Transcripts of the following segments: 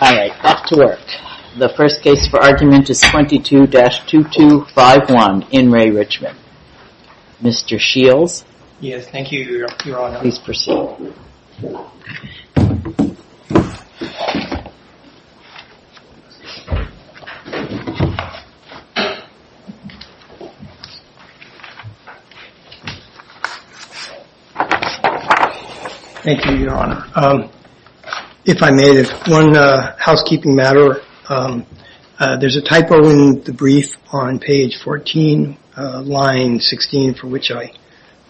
All right, off to work. The first case for argument is 22-2251 in Re. Richmond. Mr. Shields, please proceed. Thank you, Your Honor. If I may, there's one housekeeping matter. There's a typo in the brief on page 14, line 16, for which I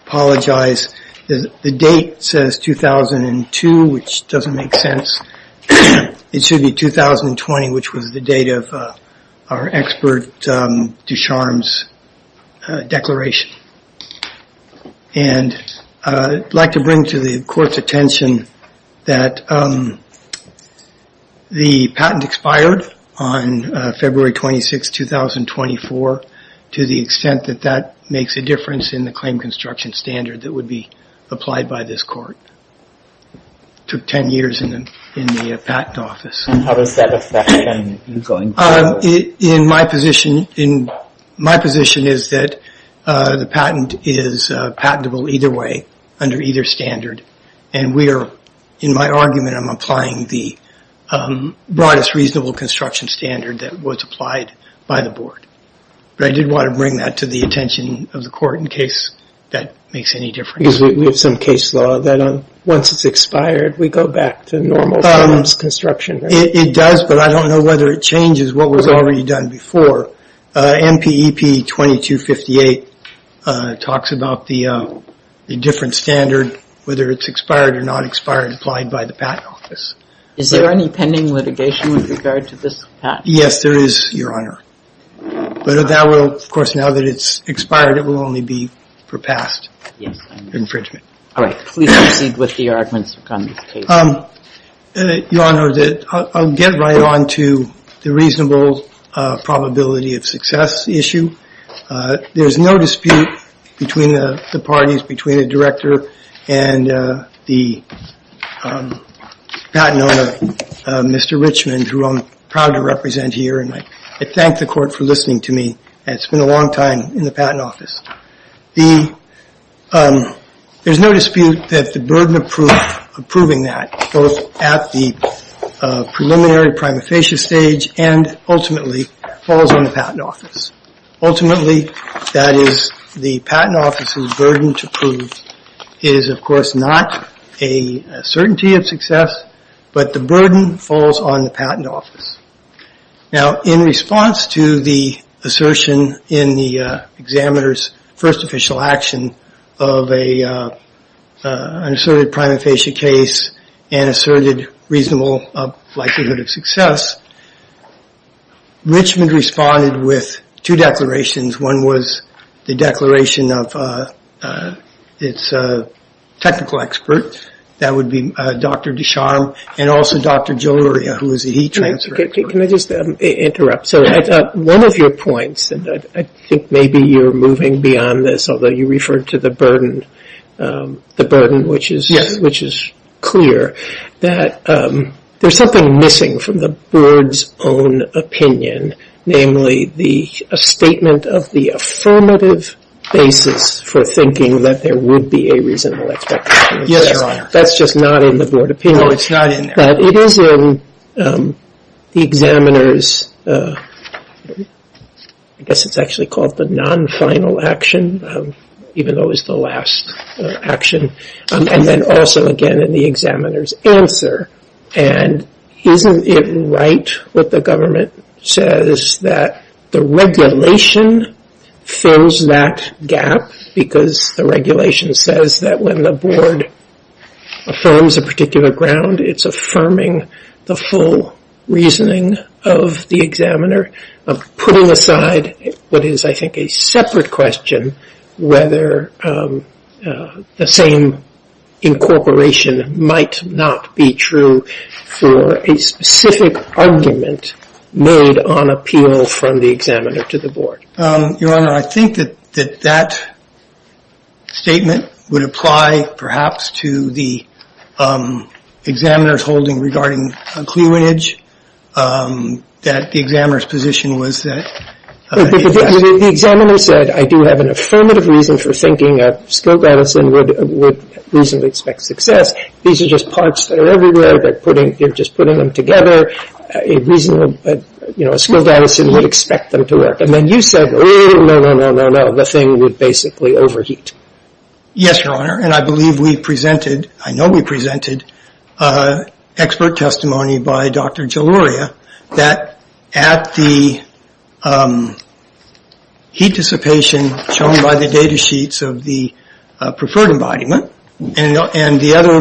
apologize. The date says 2002, which doesn't make sense. It should be 2020, which was the date of our expert Ducharme's declaration. And I'd like to bring to the Court's attention that the patent expired on February 26, 2024, to the extent that that makes a difference in the claim construction standard that would be applied by this Court. It took 10 years in the patent office. How does that affect you going forward? My position is that the patent is patentable either way, under either standard. And in my argument, I'm applying the broadest reasonable construction standard that was applied by the Board. But I did want to bring that to the attention of the Court in case that makes any difference. Because we have some case law that once it's expired, we go back to normal patent construction. It does, but I don't know whether it changes what was already done before. So MPEP 2258 talks about the different standard, whether it's expired or not expired, applied by the patent office. Is there any pending litigation with regard to this patent? Yes, there is, Your Honor. But that will, of course, now that it's expired, it will only be for past infringement. All right. Please proceed with the arguments on this case. Your Honor, I'll get right on to the reasonable probability of success issue. There is no dispute between the parties, between the director and the patent owner, Mr. Richman, who I'm proud to represent here, and I thank the Court for listening to me. It's been a long time in the patent office. There's no dispute that the burden of proving that, both at the preliminary prima facie stage and ultimately falls on the patent office. Ultimately, that is, the patent office's burden to prove is, of course, not a certainty of success, but the burden falls on the patent office. Now, in response to the assertion in the examiner's first official action of an asserted prima facie case and asserted reasonable likelihood of success, Richman responded with two declarations. One was the declaration of its technical expert. That would be Dr. Descharnes and also Dr. Joluria, who is a heat transfer expert. Can I just interrupt? So, one of your points, and I think maybe you're moving beyond this, although you referred to the burden, which is clear, that there's something missing from the board's own opinion, namely a statement of the affirmative basis for thinking that there would be a reasonable expectation of success. That's just not in the board opinion. No, it's not in there. But it is in the examiner's, I guess it's actually called the non-final action, even though it was the last action, and then also, again, in the examiner's answer. And isn't it right what the government says that the regulation fills that gap because the regulation says that when the board affirms a particular ground, it's affirming the full reasoning of the examiner, putting aside what is, I think, a separate question, whether the same incorporation might not be true for a specific argument made on appeal from the examiner to the board. Your Honor, I think that that statement would apply, perhaps, to the examiner's holding regarding cleavage, that the examiner's position was that. The examiner said, I do have an affirmative reason for thinking a skilled medicine would reasonably expect success. These are just parts that are everywhere, but putting, you're just putting them together, a reasonable, you know, a skilled medicine would expect them to work. And then you said, oh, no, no, no, no, no, the thing would basically overheat. Yes, Your Honor, and I believe we presented, I know we presented expert testimony by Dr. Jaluria that at the heat dissipation shown by the data sheets of the preferred embodiment and the other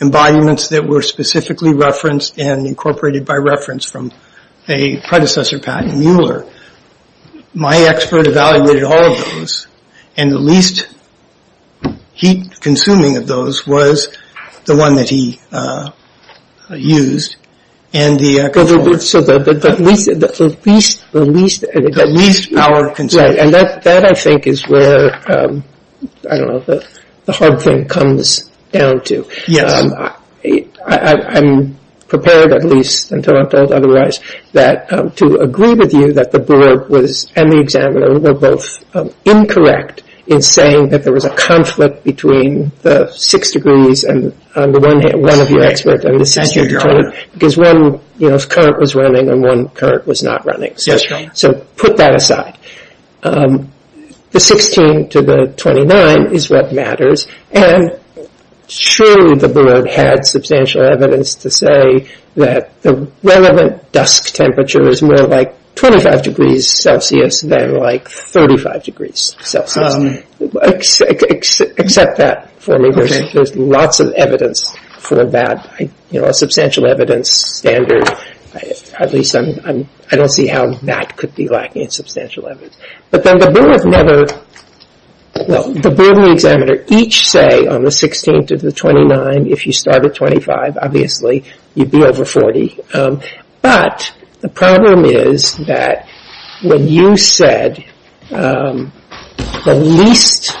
embodiments that were specifically referenced and incorporated by reference from a predecessor, Patton Mueller, my expert evaluated all of those, and the least heat-consuming of those was the one that he used. So the least power of consent. And that, I think, is where, I don't know, the hard thing comes down to. I'm prepared, at least, until I'm told otherwise, that to agree with you that the board was, and the examiner, were both incorrect in saying that there was a conflict between the six degrees and one of your experts. Thank you, Your Honor. Because one, you know, current was running and one current was not running. Yes, Your Honor. So put that aside. The 16 to the 29 is what matters, and surely the board had substantial evidence to say that the relevant dusk temperature is more like 25 degrees Celsius than like 35 degrees Celsius. Accept that for me. There's lots of evidence for that, you know, a substantial evidence standard. At least I don't see how that could be lacking in substantial evidence. But then the board never, well, the board and the examiner each say on the 16th to the 29, if you start at 25, obviously, you'd be over 40. But the problem is that when you said the least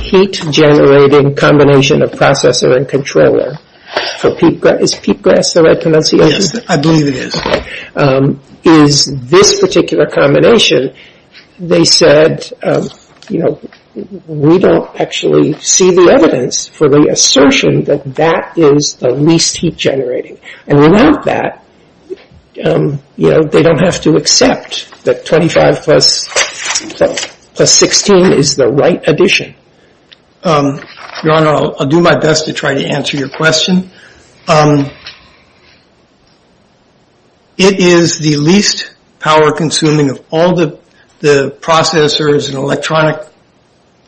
heat-generating combination of processor and controller, is peat grass the right pronunciation? Yes, I believe it is. Okay. Is this particular combination, they said, you know, we don't actually see the evidence for the assertion that that is the least heat-generating. And without that, you know, they don't have to accept that 25 plus 16 is the right addition. Your Honor, I'll do my best to try to answer your question. It is the least power-consuming of all the processors and electronic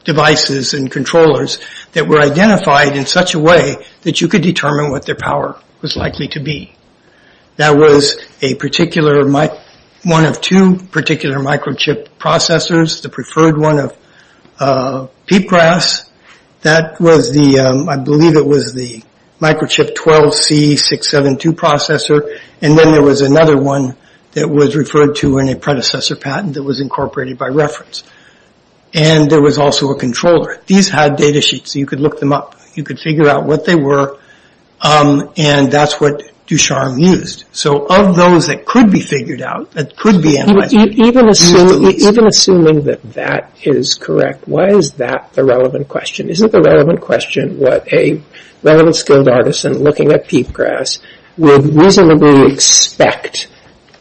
devices and controllers that were identified in such a way that you could determine what their power was likely to be. That was a particular, one of two particular microchip processors, the preferred one of peat grass. That was the, I believe it was the microchip 12C672 processor. And then there was another one that was referred to in a predecessor patent that was incorporated by reference. And there was also a controller. These had data sheets, so you could look them up. You could figure out what they were. And that's what Ducharme used. So of those that could be figured out, that could be analyzed. Even assuming that that is correct, why is that the relevant question? Isn't the relevant question what a relevant skilled artisan looking at peat grass would reasonably expect,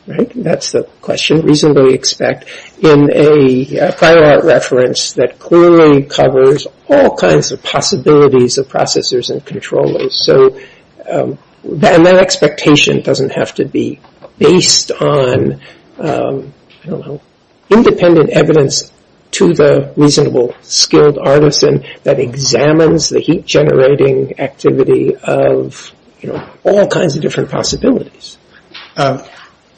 right, that's the question, reasonably expect in a prior art reference that clearly covers all kinds of possibilities of processors and controllers. So that expectation doesn't have to be based on, I don't know, independent evidence to the reasonable skilled artisan that examines the heat generating activity of, you know, all kinds of different possibilities.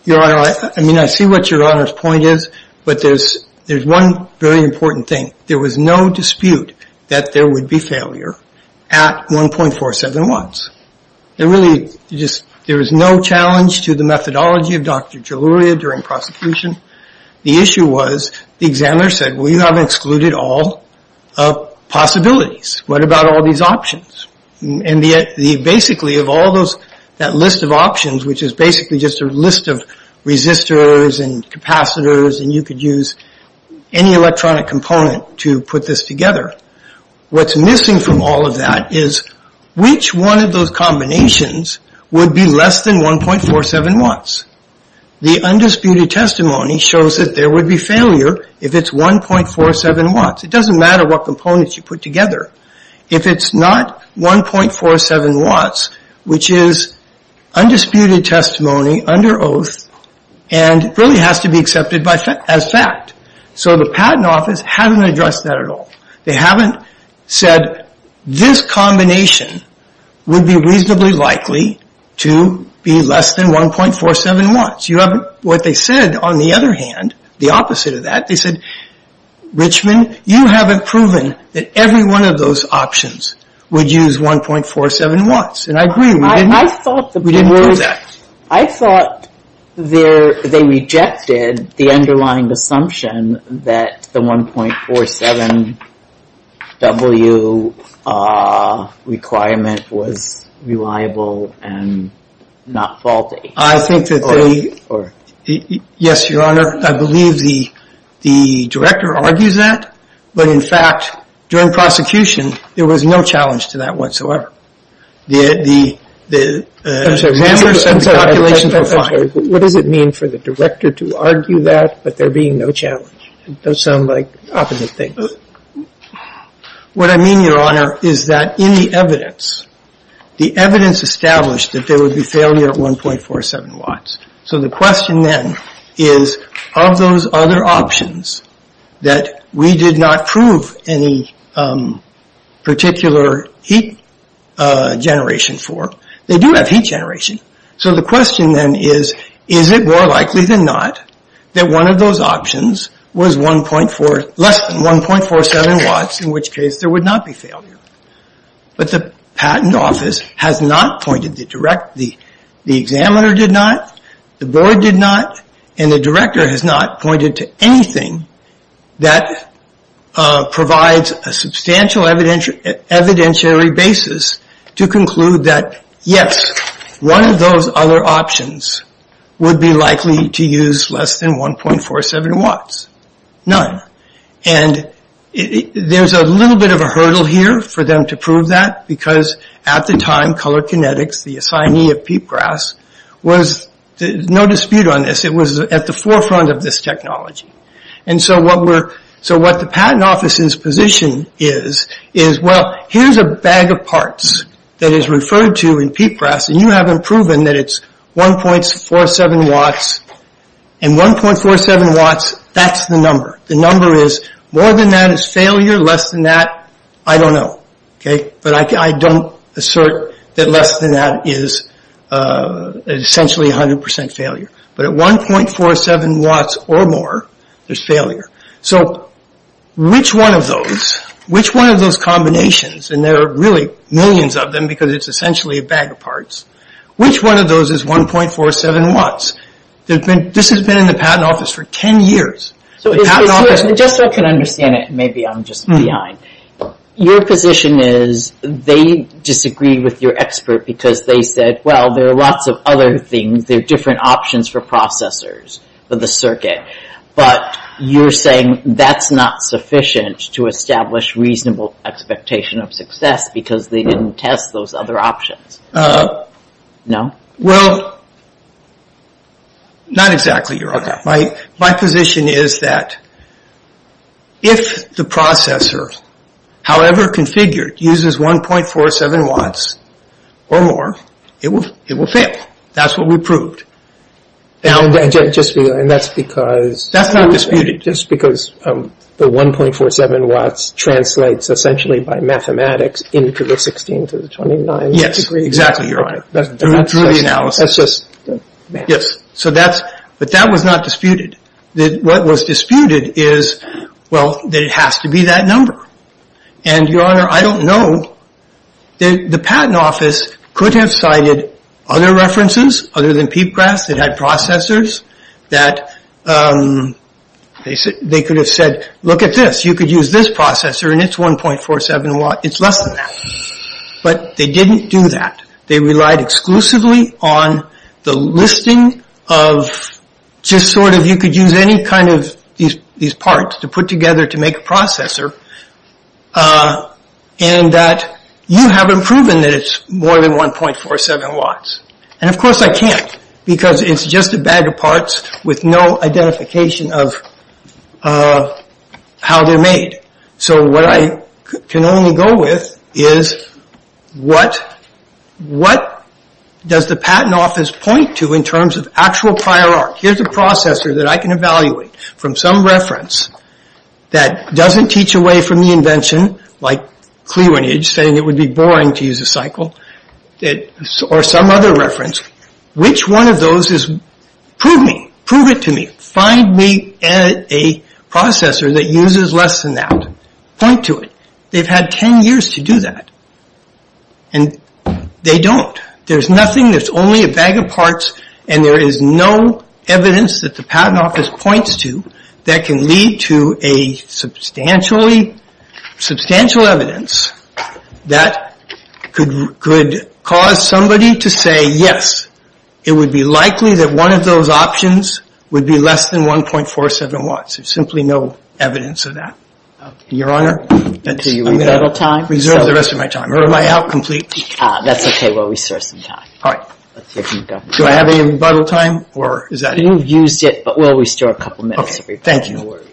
Your Honor, I mean, I see what Your Honor's point is, but there's one very important thing. There was no dispute that there would be failure at 1.47 watts. It really just, there was no challenge to the methodology of Dr. Jaluria during prosecution. The issue was the examiner said, well, you haven't excluded all possibilities. What about all these options? And basically of all those, that list of options, which is basically just a list of resistors and capacitors and you could use any electronic component to put this together, what's missing from all of that is which one of those combinations would be less than 1.47 watts. The undisputed testimony shows that there would be failure if it's 1.47 watts. It doesn't matter what components you put together. If it's not 1.47 watts, which is undisputed testimony under oath and really has to be accepted as fact. So the Patent Office hasn't addressed that at all. They haven't said this combination would be reasonably likely to be less than 1.47 watts. What they said, on the other hand, the opposite of that, they said, Richmond, you haven't proven that every one of those options would use 1.47 watts. And I agree, we didn't do that. I thought they rejected the underlying assumption that the 1.47 W requirement was reliable and not faulty. I think that they, yes, your honor, I believe the director argues that. But in fact, during prosecution, there was no challenge to that whatsoever. I'm sorry, what does it mean for the director to argue that, but there being no challenge? It does sound like opposite things. What I mean, your honor, is that in the evidence, the evidence established that there would be failure at 1.47 watts. So the question then is, of those other options that we did not prove any particular heat generation for, they do have heat generation. So the question then is, is it more likely than not that one of those options was less than 1.47 watts, in which case there would not be failure. But the patent office has not pointed, the examiner did not, the board did not, and the director has not pointed to anything that provides a substantial evidentiary basis to conclude that yes, one of those other options would be likely to use less than 1.47 watts, none. And there's a little bit of a hurdle here for them to prove that, because at the time, Color Kinetics, the assignee of Peatgrass, was, no dispute on this, it was at the forefront of this technology. And so what the patent office's position is, is well, here's a bag of parts that is referred to in Peatgrass, and you haven't proven that it's 1.47 watts, and 1.47 watts, that's the number. The number is, more than that is failure, less than that, I don't know. But I don't assert that less than that is essentially 100% failure. But at 1.47 watts or more, there's failure. So which one of those, which one of those combinations, and there are really millions of them because it's essentially a bag of parts, which one of those is 1.47 watts? This has been in the patent office for 10 years. So just so I can understand it, maybe I'm just behind. Your position is they disagree with your expert because they said, well, there are lots of other things, there are different options for processors for the circuit. But you're saying that's not sufficient to establish reasonable expectation of success because they didn't test those other options. No? Well, not exactly, Your Honor. My position is that if the processor, however configured, uses 1.47 watts or more, it will fail. That's what we proved. And that's because... That's not disputed. Just because the 1.47 watts translates essentially by mathematics into the 16 to the 29 degree. Yes, exactly, Your Honor, through the analysis. Yes. But that was not disputed. What was disputed is, well, that it has to be that number. And, Your Honor, I don't know. The patent office could have cited other references other than Peepgrass that had processors that they could have said, look at this. You could use this processor and it's 1.47 watts. It's less than that. But they didn't do that. They relied exclusively on the listing of just sort of you could use any kind of these parts to put together to make a processor and that you haven't proven that it's more than 1.47 watts. And, of course, I can't because it's just a bag of parts with no identification of how they're made. So what I can only go with is what does the patent office point to in terms of actual prior art? Here's a processor that I can evaluate from some reference that doesn't teach away from the invention, like Cleavage saying it would be boring to use a cycle, or some other reference. Which one of those is... Prove me. Prove it to me. Find me a processor that uses less than that. Point to it. They've had 10 years to do that. And they don't. There's nothing. There's only a bag of parts. And there is no evidence that the patent office points to that can lead to a substantial evidence that could cause somebody to say, yes, it would be likely that one of those options would be less than 1.47 watts. There's simply no evidence of that. Your Honor, I'm going to reserve the rest of my time. Or am I out completely? That's okay. We'll restore some time. All right. Do I have any rebuttal time? You've used it, but we'll restore a couple minutes. Thank you. No worries.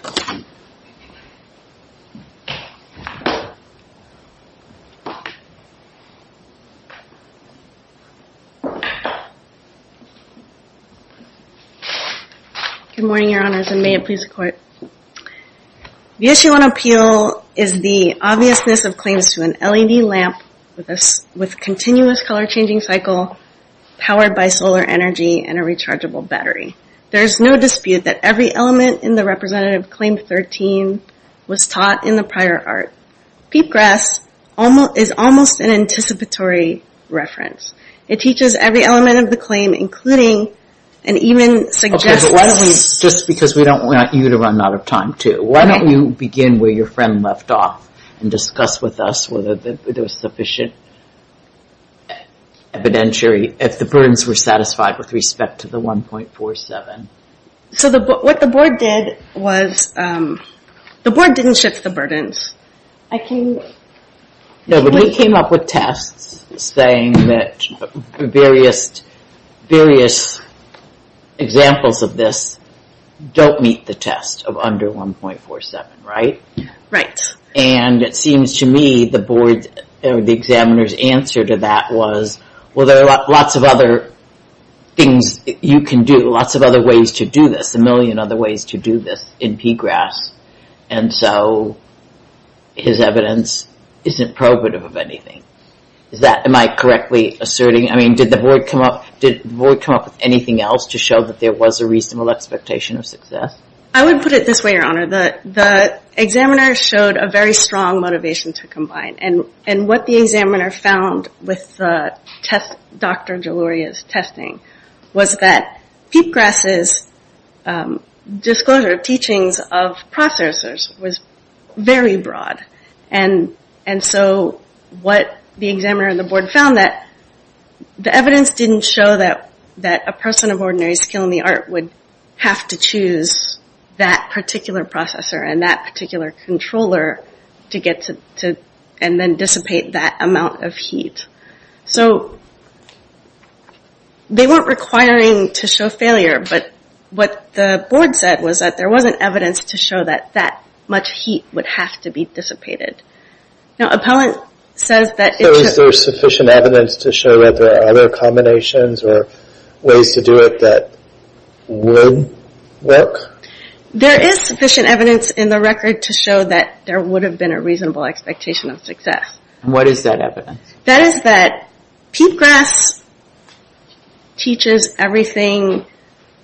Good morning, Your Honors, and may it please the Court. The issue on appeal is the obviousness of claims to an LED lamp with continuous color-changing cycle, powered by solar energy and a rechargeable battery. There is no dispute that every element in the Representative Claim 13 was taught in the prior art. Peepgrass is almost an anticipatory reference. It teaches every element of the claim, including and even suggests. Okay, but why don't we, just because we don't want you to run out of time, too, why don't you begin where your friend left off and discuss with us whether there was sufficient evidentiary, if the burdens were satisfied with respect to the 1.47. So what the Board did was, the Board didn't shift the burdens. No, but we came up with tests saying that various examples of this don't meet the test of under 1.47, right? Right. And it seems to me the Board, or the examiner's answer to that was, well, there are lots of other things you can do, lots of other ways to do this, a million other ways to do this in Peepgrass. And so his evidence isn't probative of anything. Is that, am I correctly asserting? I mean, did the Board come up with anything else to show that there was a reasonable expectation of success? I would put it this way, Your Honor. The examiner showed a very strong motivation to combine. And what the examiner found with Dr. Geloria's testing was that Peepgrass's disclosure of teachings of processors was very broad. And so what the examiner and the Board found, that the evidence didn't show that a person of ordinary skill in the art would have to choose that particular processor and that particular controller to get to, and then dissipate that amount of heat. So they weren't requiring to show failure, but what the Board said was that there wasn't evidence to show that that much heat would have to be dissipated. Now, Appellant says that... Is there sufficient evidence to show that there are other combinations or ways to do it that would work? There is sufficient evidence in the record to show that there would have been a reasonable expectation of success. And what is that evidence? That is that Peepgrass teaches everything,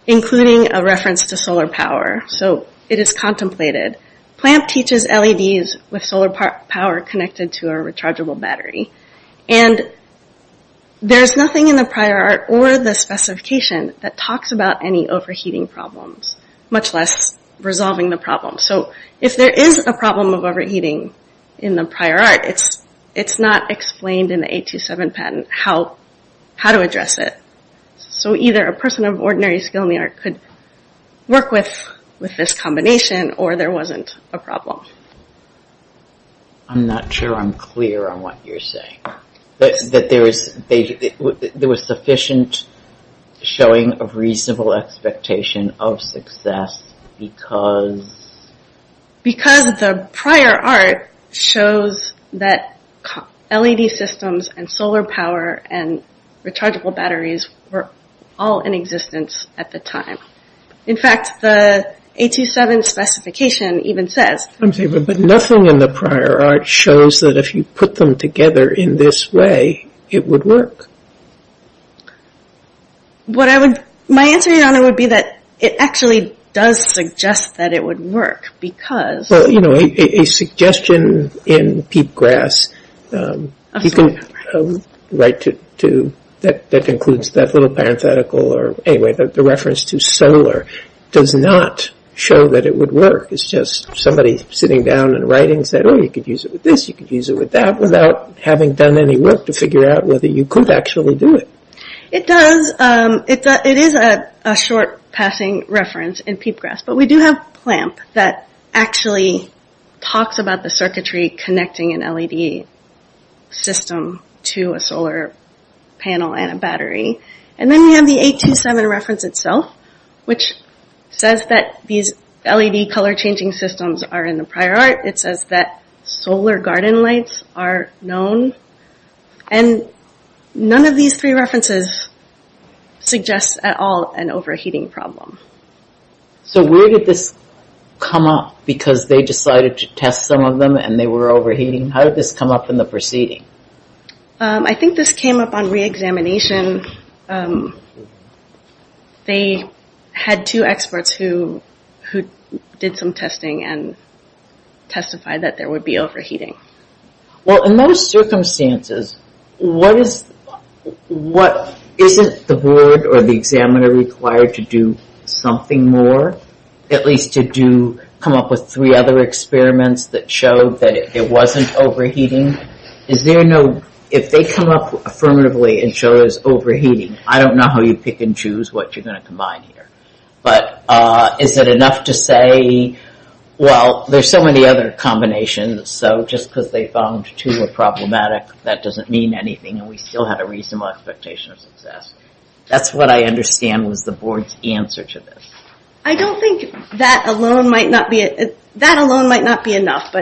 including a reference to solar power. So it is contemplated. Plamp teaches LEDs with solar power connected to a rechargeable battery. And there's nothing in the prior art or the specification that talks about any overheating problems, much less resolving the problem. So if there is a problem of overheating in the prior art, it's not explained in the 827 patent how to address it. So either a person of ordinary skill in the art could work with this combination, or there wasn't a problem. I'm not sure I'm clear on what you're saying. There was sufficient showing of reasonable expectation of success because... Because the prior art shows that LED systems and solar power and rechargeable batteries were all in existence at the time. In fact, the 827 specification even says... But nothing in the prior art shows that if you put them together in this way, it would work. What I would... My answer, Your Honor, would be that it actually does suggest that it would work because... Well, you know, a suggestion in Peepgrass, you can write to... That includes that little parenthetical or... Anyway, the reference to solar does not show that it would work. It's just somebody sitting down and writing said, Oh, you could use it with this, you could use it with that, without having done any work to figure out whether you could actually do it. It does. It is a short passing reference in Peepgrass. But we do have PLAMP that actually talks about the circuitry connecting an LED system to a solar panel and a battery. And then we have the 827 reference itself, which says that these LED color changing systems are in the prior art. It says that solar garden lights are known. And none of these three references suggests at all an overheating problem. So where did this come up because they decided to test some of them and they were overheating? How did this come up in the proceeding? I think this came up on re-examination. They had two experts who did some testing and testified that there would be overheating. Well, in those circumstances, isn't the board or the examiner required to do something more? At least to come up with three other experiments that show that it wasn't overheating? If they come up affirmatively and show it was overheating, I don't know how you pick and choose what you're going to combine here. But is it enough to say, well, there's so many other combinations. So just because they found two were problematic, that doesn't mean anything. And we still have a reasonable expectation of success. That's what I understand was the board's answer to this. I don't think that alone might not be enough.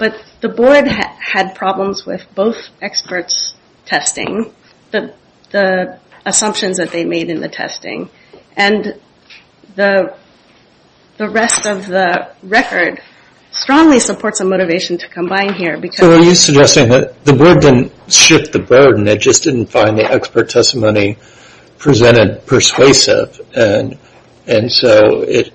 But the board had problems with both experts' testing, the assumptions that they made in the testing. And the rest of the record strongly supports a motivation to combine here. So are you suggesting that the board didn't shift the burden, it just didn't find the expert testimony presented persuasive. And so it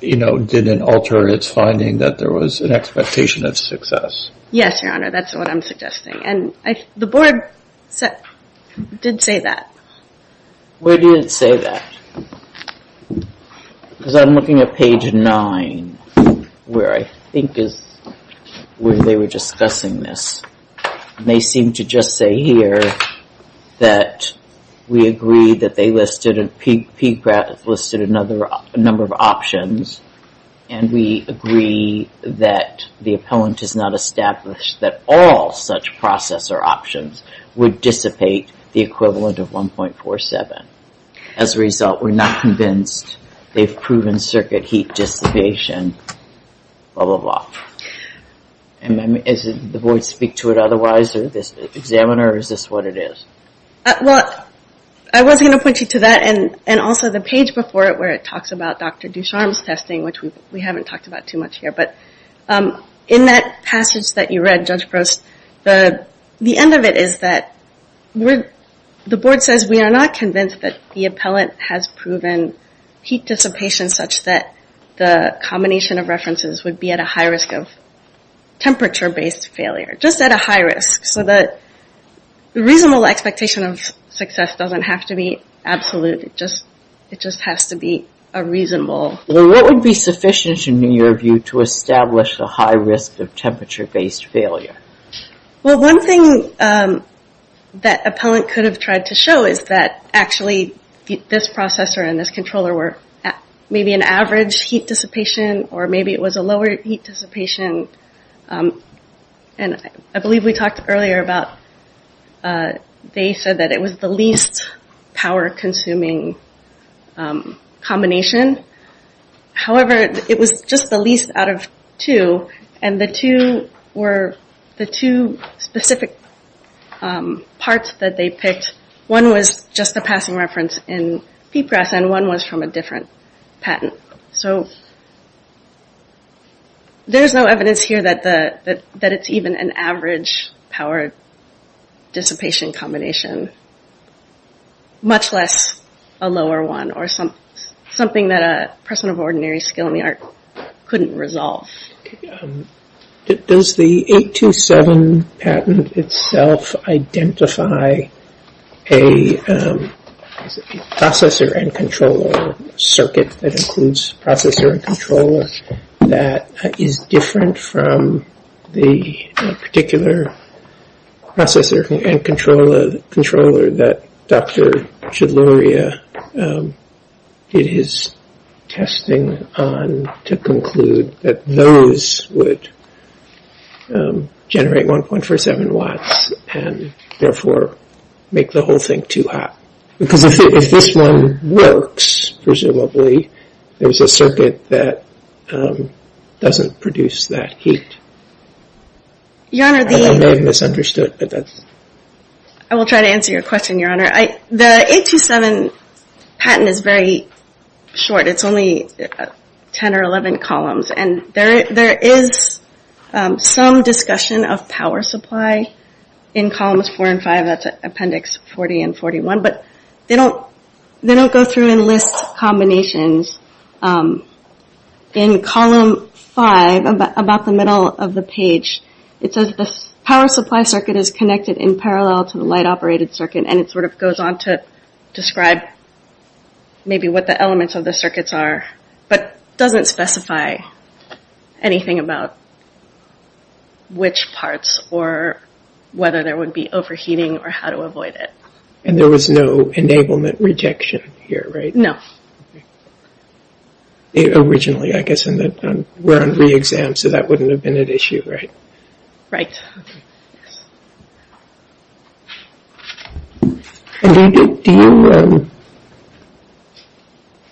didn't alter its finding that there was an expectation of success. Yes, Your Honor, that's what I'm suggesting. And the board did say that. Where did it say that? Because I'm looking at page nine, where I think is where they were discussing this. And they seem to just say here that we agree that they listed another number of options. And we agree that the appellant has not established that all such processor options would dissipate the equivalent of 1.47. As a result, we're not convinced they've proven circuit heat dissipation, blah, blah, blah. And does the board speak to it otherwise, this examiner, or is this what it is? Well, I was going to point you to that and also the page before it where it talks about Dr. Ducharme's testing, which we haven't talked about too much here. But in that passage that you read, Judge Prost, the end of it is that the board says we are not convinced that the appellant has proven heat dissipation such that the combination of references would be at a high risk of temperature-based failure. Just at a high risk. So the reasonable expectation of success doesn't have to be absolute. It just has to be a reasonable. Well, what would be sufficient, in your view, to establish a high risk of temperature-based failure? Well, one thing that appellant could have tried to show is that actually this processor and this controller were maybe an average heat dissipation or maybe it was a lower heat dissipation. And I believe we talked earlier about they said that it was the least power-consuming combination. However, it was just the least out of two. And the two were the two specific parts that they picked. One was just a passing reference in PPRAS and one was from a different patent. So there's no evidence here that it's even an average power-dissipation combination. Much less a lower one or something that a person of ordinary skill in the art couldn't resolve. Does the 827 patent itself identify a processor and controller circuit that includes processor and controller that is different from the particular processor and controller that Dr. Chudloria did his testing on to conclude that those would generate 1.47 watts and therefore make the whole thing too hot? Because if this one works, presumably, there's a circuit that doesn't produce that heat. I may have misunderstood, but that's... I will try to answer your question, Your Honor. The 827 patent is very short. It's only 10 or 11 columns. And there is some discussion of power supply in columns 4 and 5. That's appendix 40 and 41. But they don't go through and list combinations. In column 5, about the middle of the page, it says, the power supply circuit is connected in parallel to the light-operated circuit. And it sort of goes on to describe maybe what the elements of the circuits are. But it doesn't specify anything about which parts or whether there would be overheating or how to avoid it. And there was no enablement rejection here, right? No. Originally, I guess, we're on re-exam, so that wouldn't have been an issue, right? Right. Okay. Do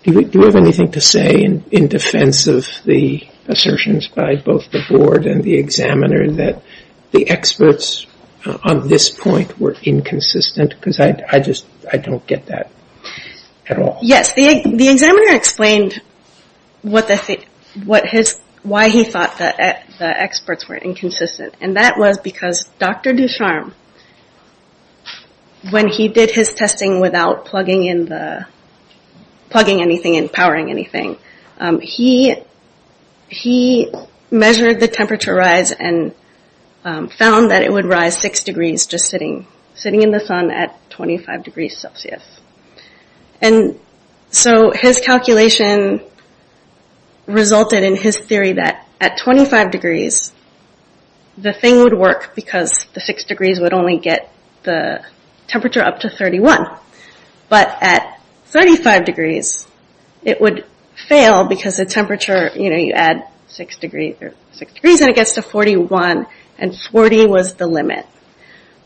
you have anything to say in defense of the assertions by both the board and the examiner that the experts on this point were inconsistent? Because I just don't get that at all. Yes, the examiner explained why he thought the experts were inconsistent. And that was because Dr. Ducharme, when he did his testing without plugging anything in, powering anything, he measured the temperature rise and found that it would rise 6 degrees just sitting in the sun at 25 degrees Celsius. And so his calculation resulted in his theory that at 25 degrees, the thing would work because the 6 degrees would only get the temperature up to 31. But at 35 degrees, it would fail because the temperature, you know, you add 6 degrees and it gets to 41. And 40 was the limit.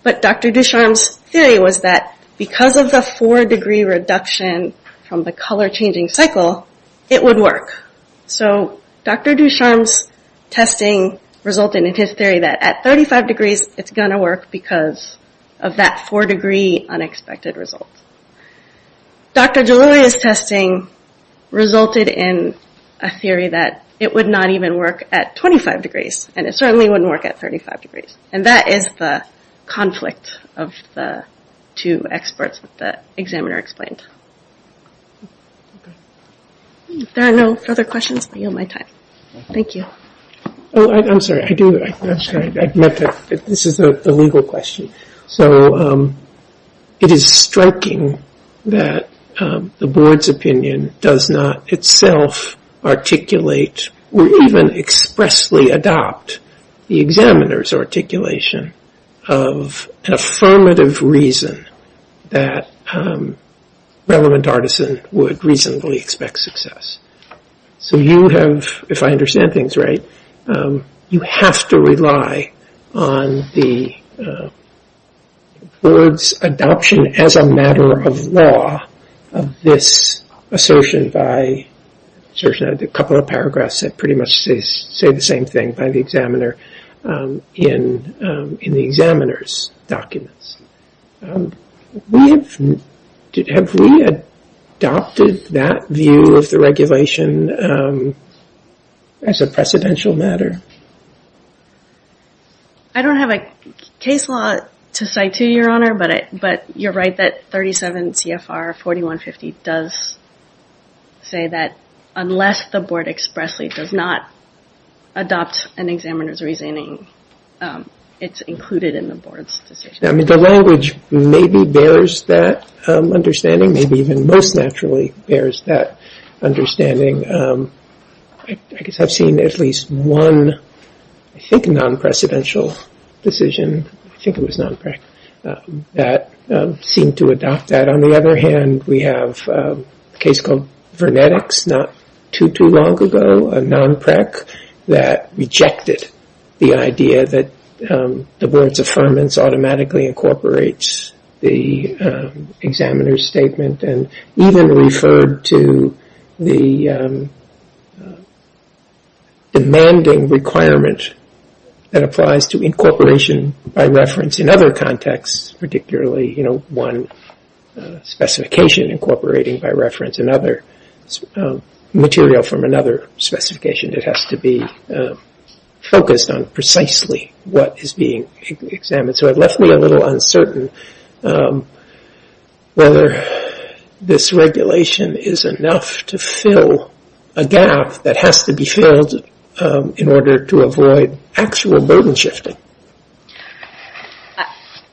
But Dr. Ducharme's theory was that because of the 4-degree reduction from the color-changing cycle, it would work. So Dr. Ducharme's testing resulted in his theory that at 35 degrees, it's going to work because of that 4-degree unexpected result. Dr. Deloria's testing resulted in a theory that it would not even work at 25 degrees, and it certainly wouldn't work at 35 degrees. And that is the conflict of the two experts that the examiner explained. If there are no further questions, I yield my time. Thank you. Oh, I'm sorry. I do. I'm sorry. I meant that this is a legal question. So it is striking that the board's opinion does not itself articulate or even expressly adopt the examiner's articulation of an affirmative reason that relevant artisan would reasonably expect success. So you have, if I understand things right, you have to rely on the board's adoption as a matter of law of this assertion by a couple of paragraphs that pretty much say the same thing by the examiner in the examiner's documents. Have we adopted that view of the regulation as a precedential matter? I don't have a case law to cite to you, Your Honor, but you're right that 37 CFR 4150 does say that unless the board expressly does not adopt an examiner's reasoning, it's included in the board's decision. I mean, the language maybe bears that understanding, maybe even most naturally bears that understanding. I guess I've seen at least one, I think, non-precedential decision, I think it was non-PREC, that seemed to adopt that. On the other hand, we have a case called Vernetics not too, too long ago, a non-PREC, that rejected the idea that the board's affirmance automatically incorporates the examiner's statement and even referred to the demanding requirement that applies to incorporation by reference in other contexts, particularly, you know, one specification incorporating by reference another material from another specification that has to be focused on precisely what is being examined. So it left me a little uncertain whether this regulation is enough to fill a gap that has to be filled in order to avoid actual burden shifting.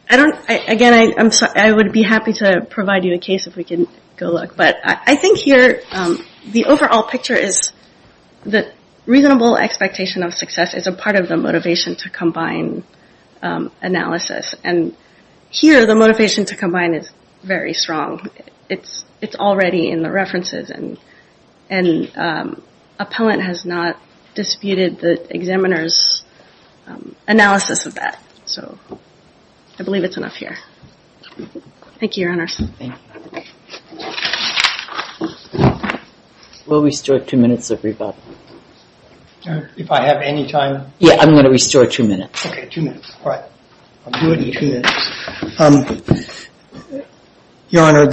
Again, I would be happy to provide you a case if we can go look, but I think here the overall picture is that reasonable expectation of success is a part of the motivation to combine analysis. And here the motivation to combine is very strong. It's already in the references and appellant has not disputed the examiner's analysis of that. So I believe it's enough here. Thank you, Your Honor. We'll restore two minutes of rebuttal. If I have any time. Yeah, I'm going to restore two minutes. Okay, two minutes, all right. I'll do it in two minutes. Your Honor,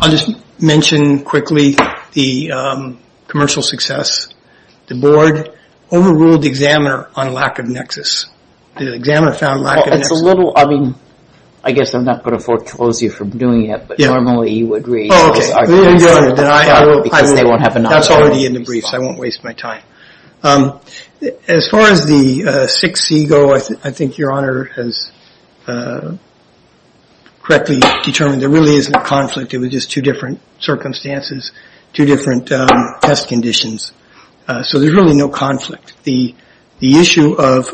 I'll just mention quickly the commercial success. The board overruled the examiner on lack of nexus. The examiner found lack of nexus. It's a little, I mean, I guess I'm not going to foreclose you from doing it, but normally you would read. Oh, okay. Because they won't have enough. That's already in the briefs. I won't waste my time. As far as the 6C go, I think Your Honor has correctly determined there really isn't a conflict. It was just two different circumstances, two different test conditions. So there's really no conflict. The issue of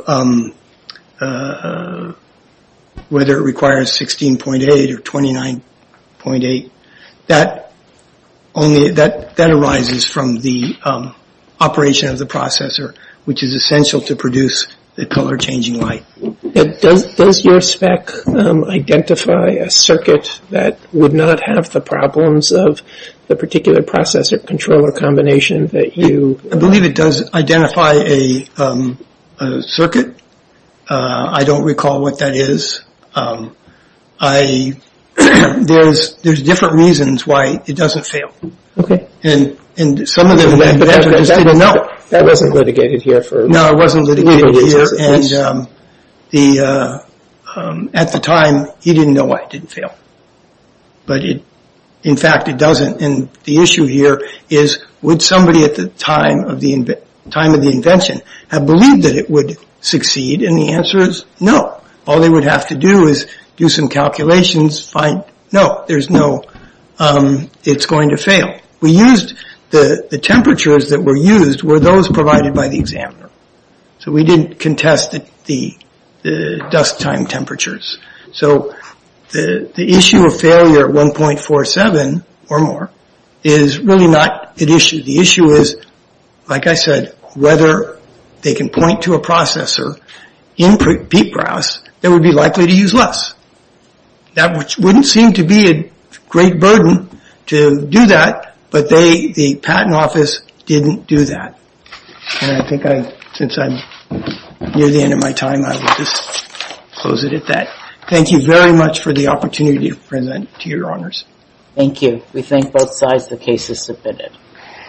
whether it requires 16.8 or 29.8, that arises from the operation of the processor, which is essential to produce the color-changing light. Does your spec identify a circuit that would not have the problems of the particular processor-controller combination that you- I believe it does identify a circuit. I don't recall what that is. There's different reasons why it doesn't fail. And some of the- But that wasn't litigated here for legal reasons. No, it wasn't litigated here. And at the time, he didn't know why it didn't fail. But in fact, it doesn't. And the issue here is would somebody at the time of the invention have believed that it would succeed? And the answer is no. All they would have to do is do some calculations, find- No, there's no- it's going to fail. We used- the temperatures that were used were those provided by the examiner. So we didn't contest the dusk time temperatures. So the issue of failure at 1.47 or more is really not an issue. The issue is, like I said, whether they can point to a processor in peak browse that would be likely to use less. That wouldn't seem to be a great burden to do that, but the patent office didn't do that. And I think I- since I'm near the end of my time, I will just close it at that. Thank you very much for the opportunity to present to your honors. Thank you. We thank both sides of the cases submitted.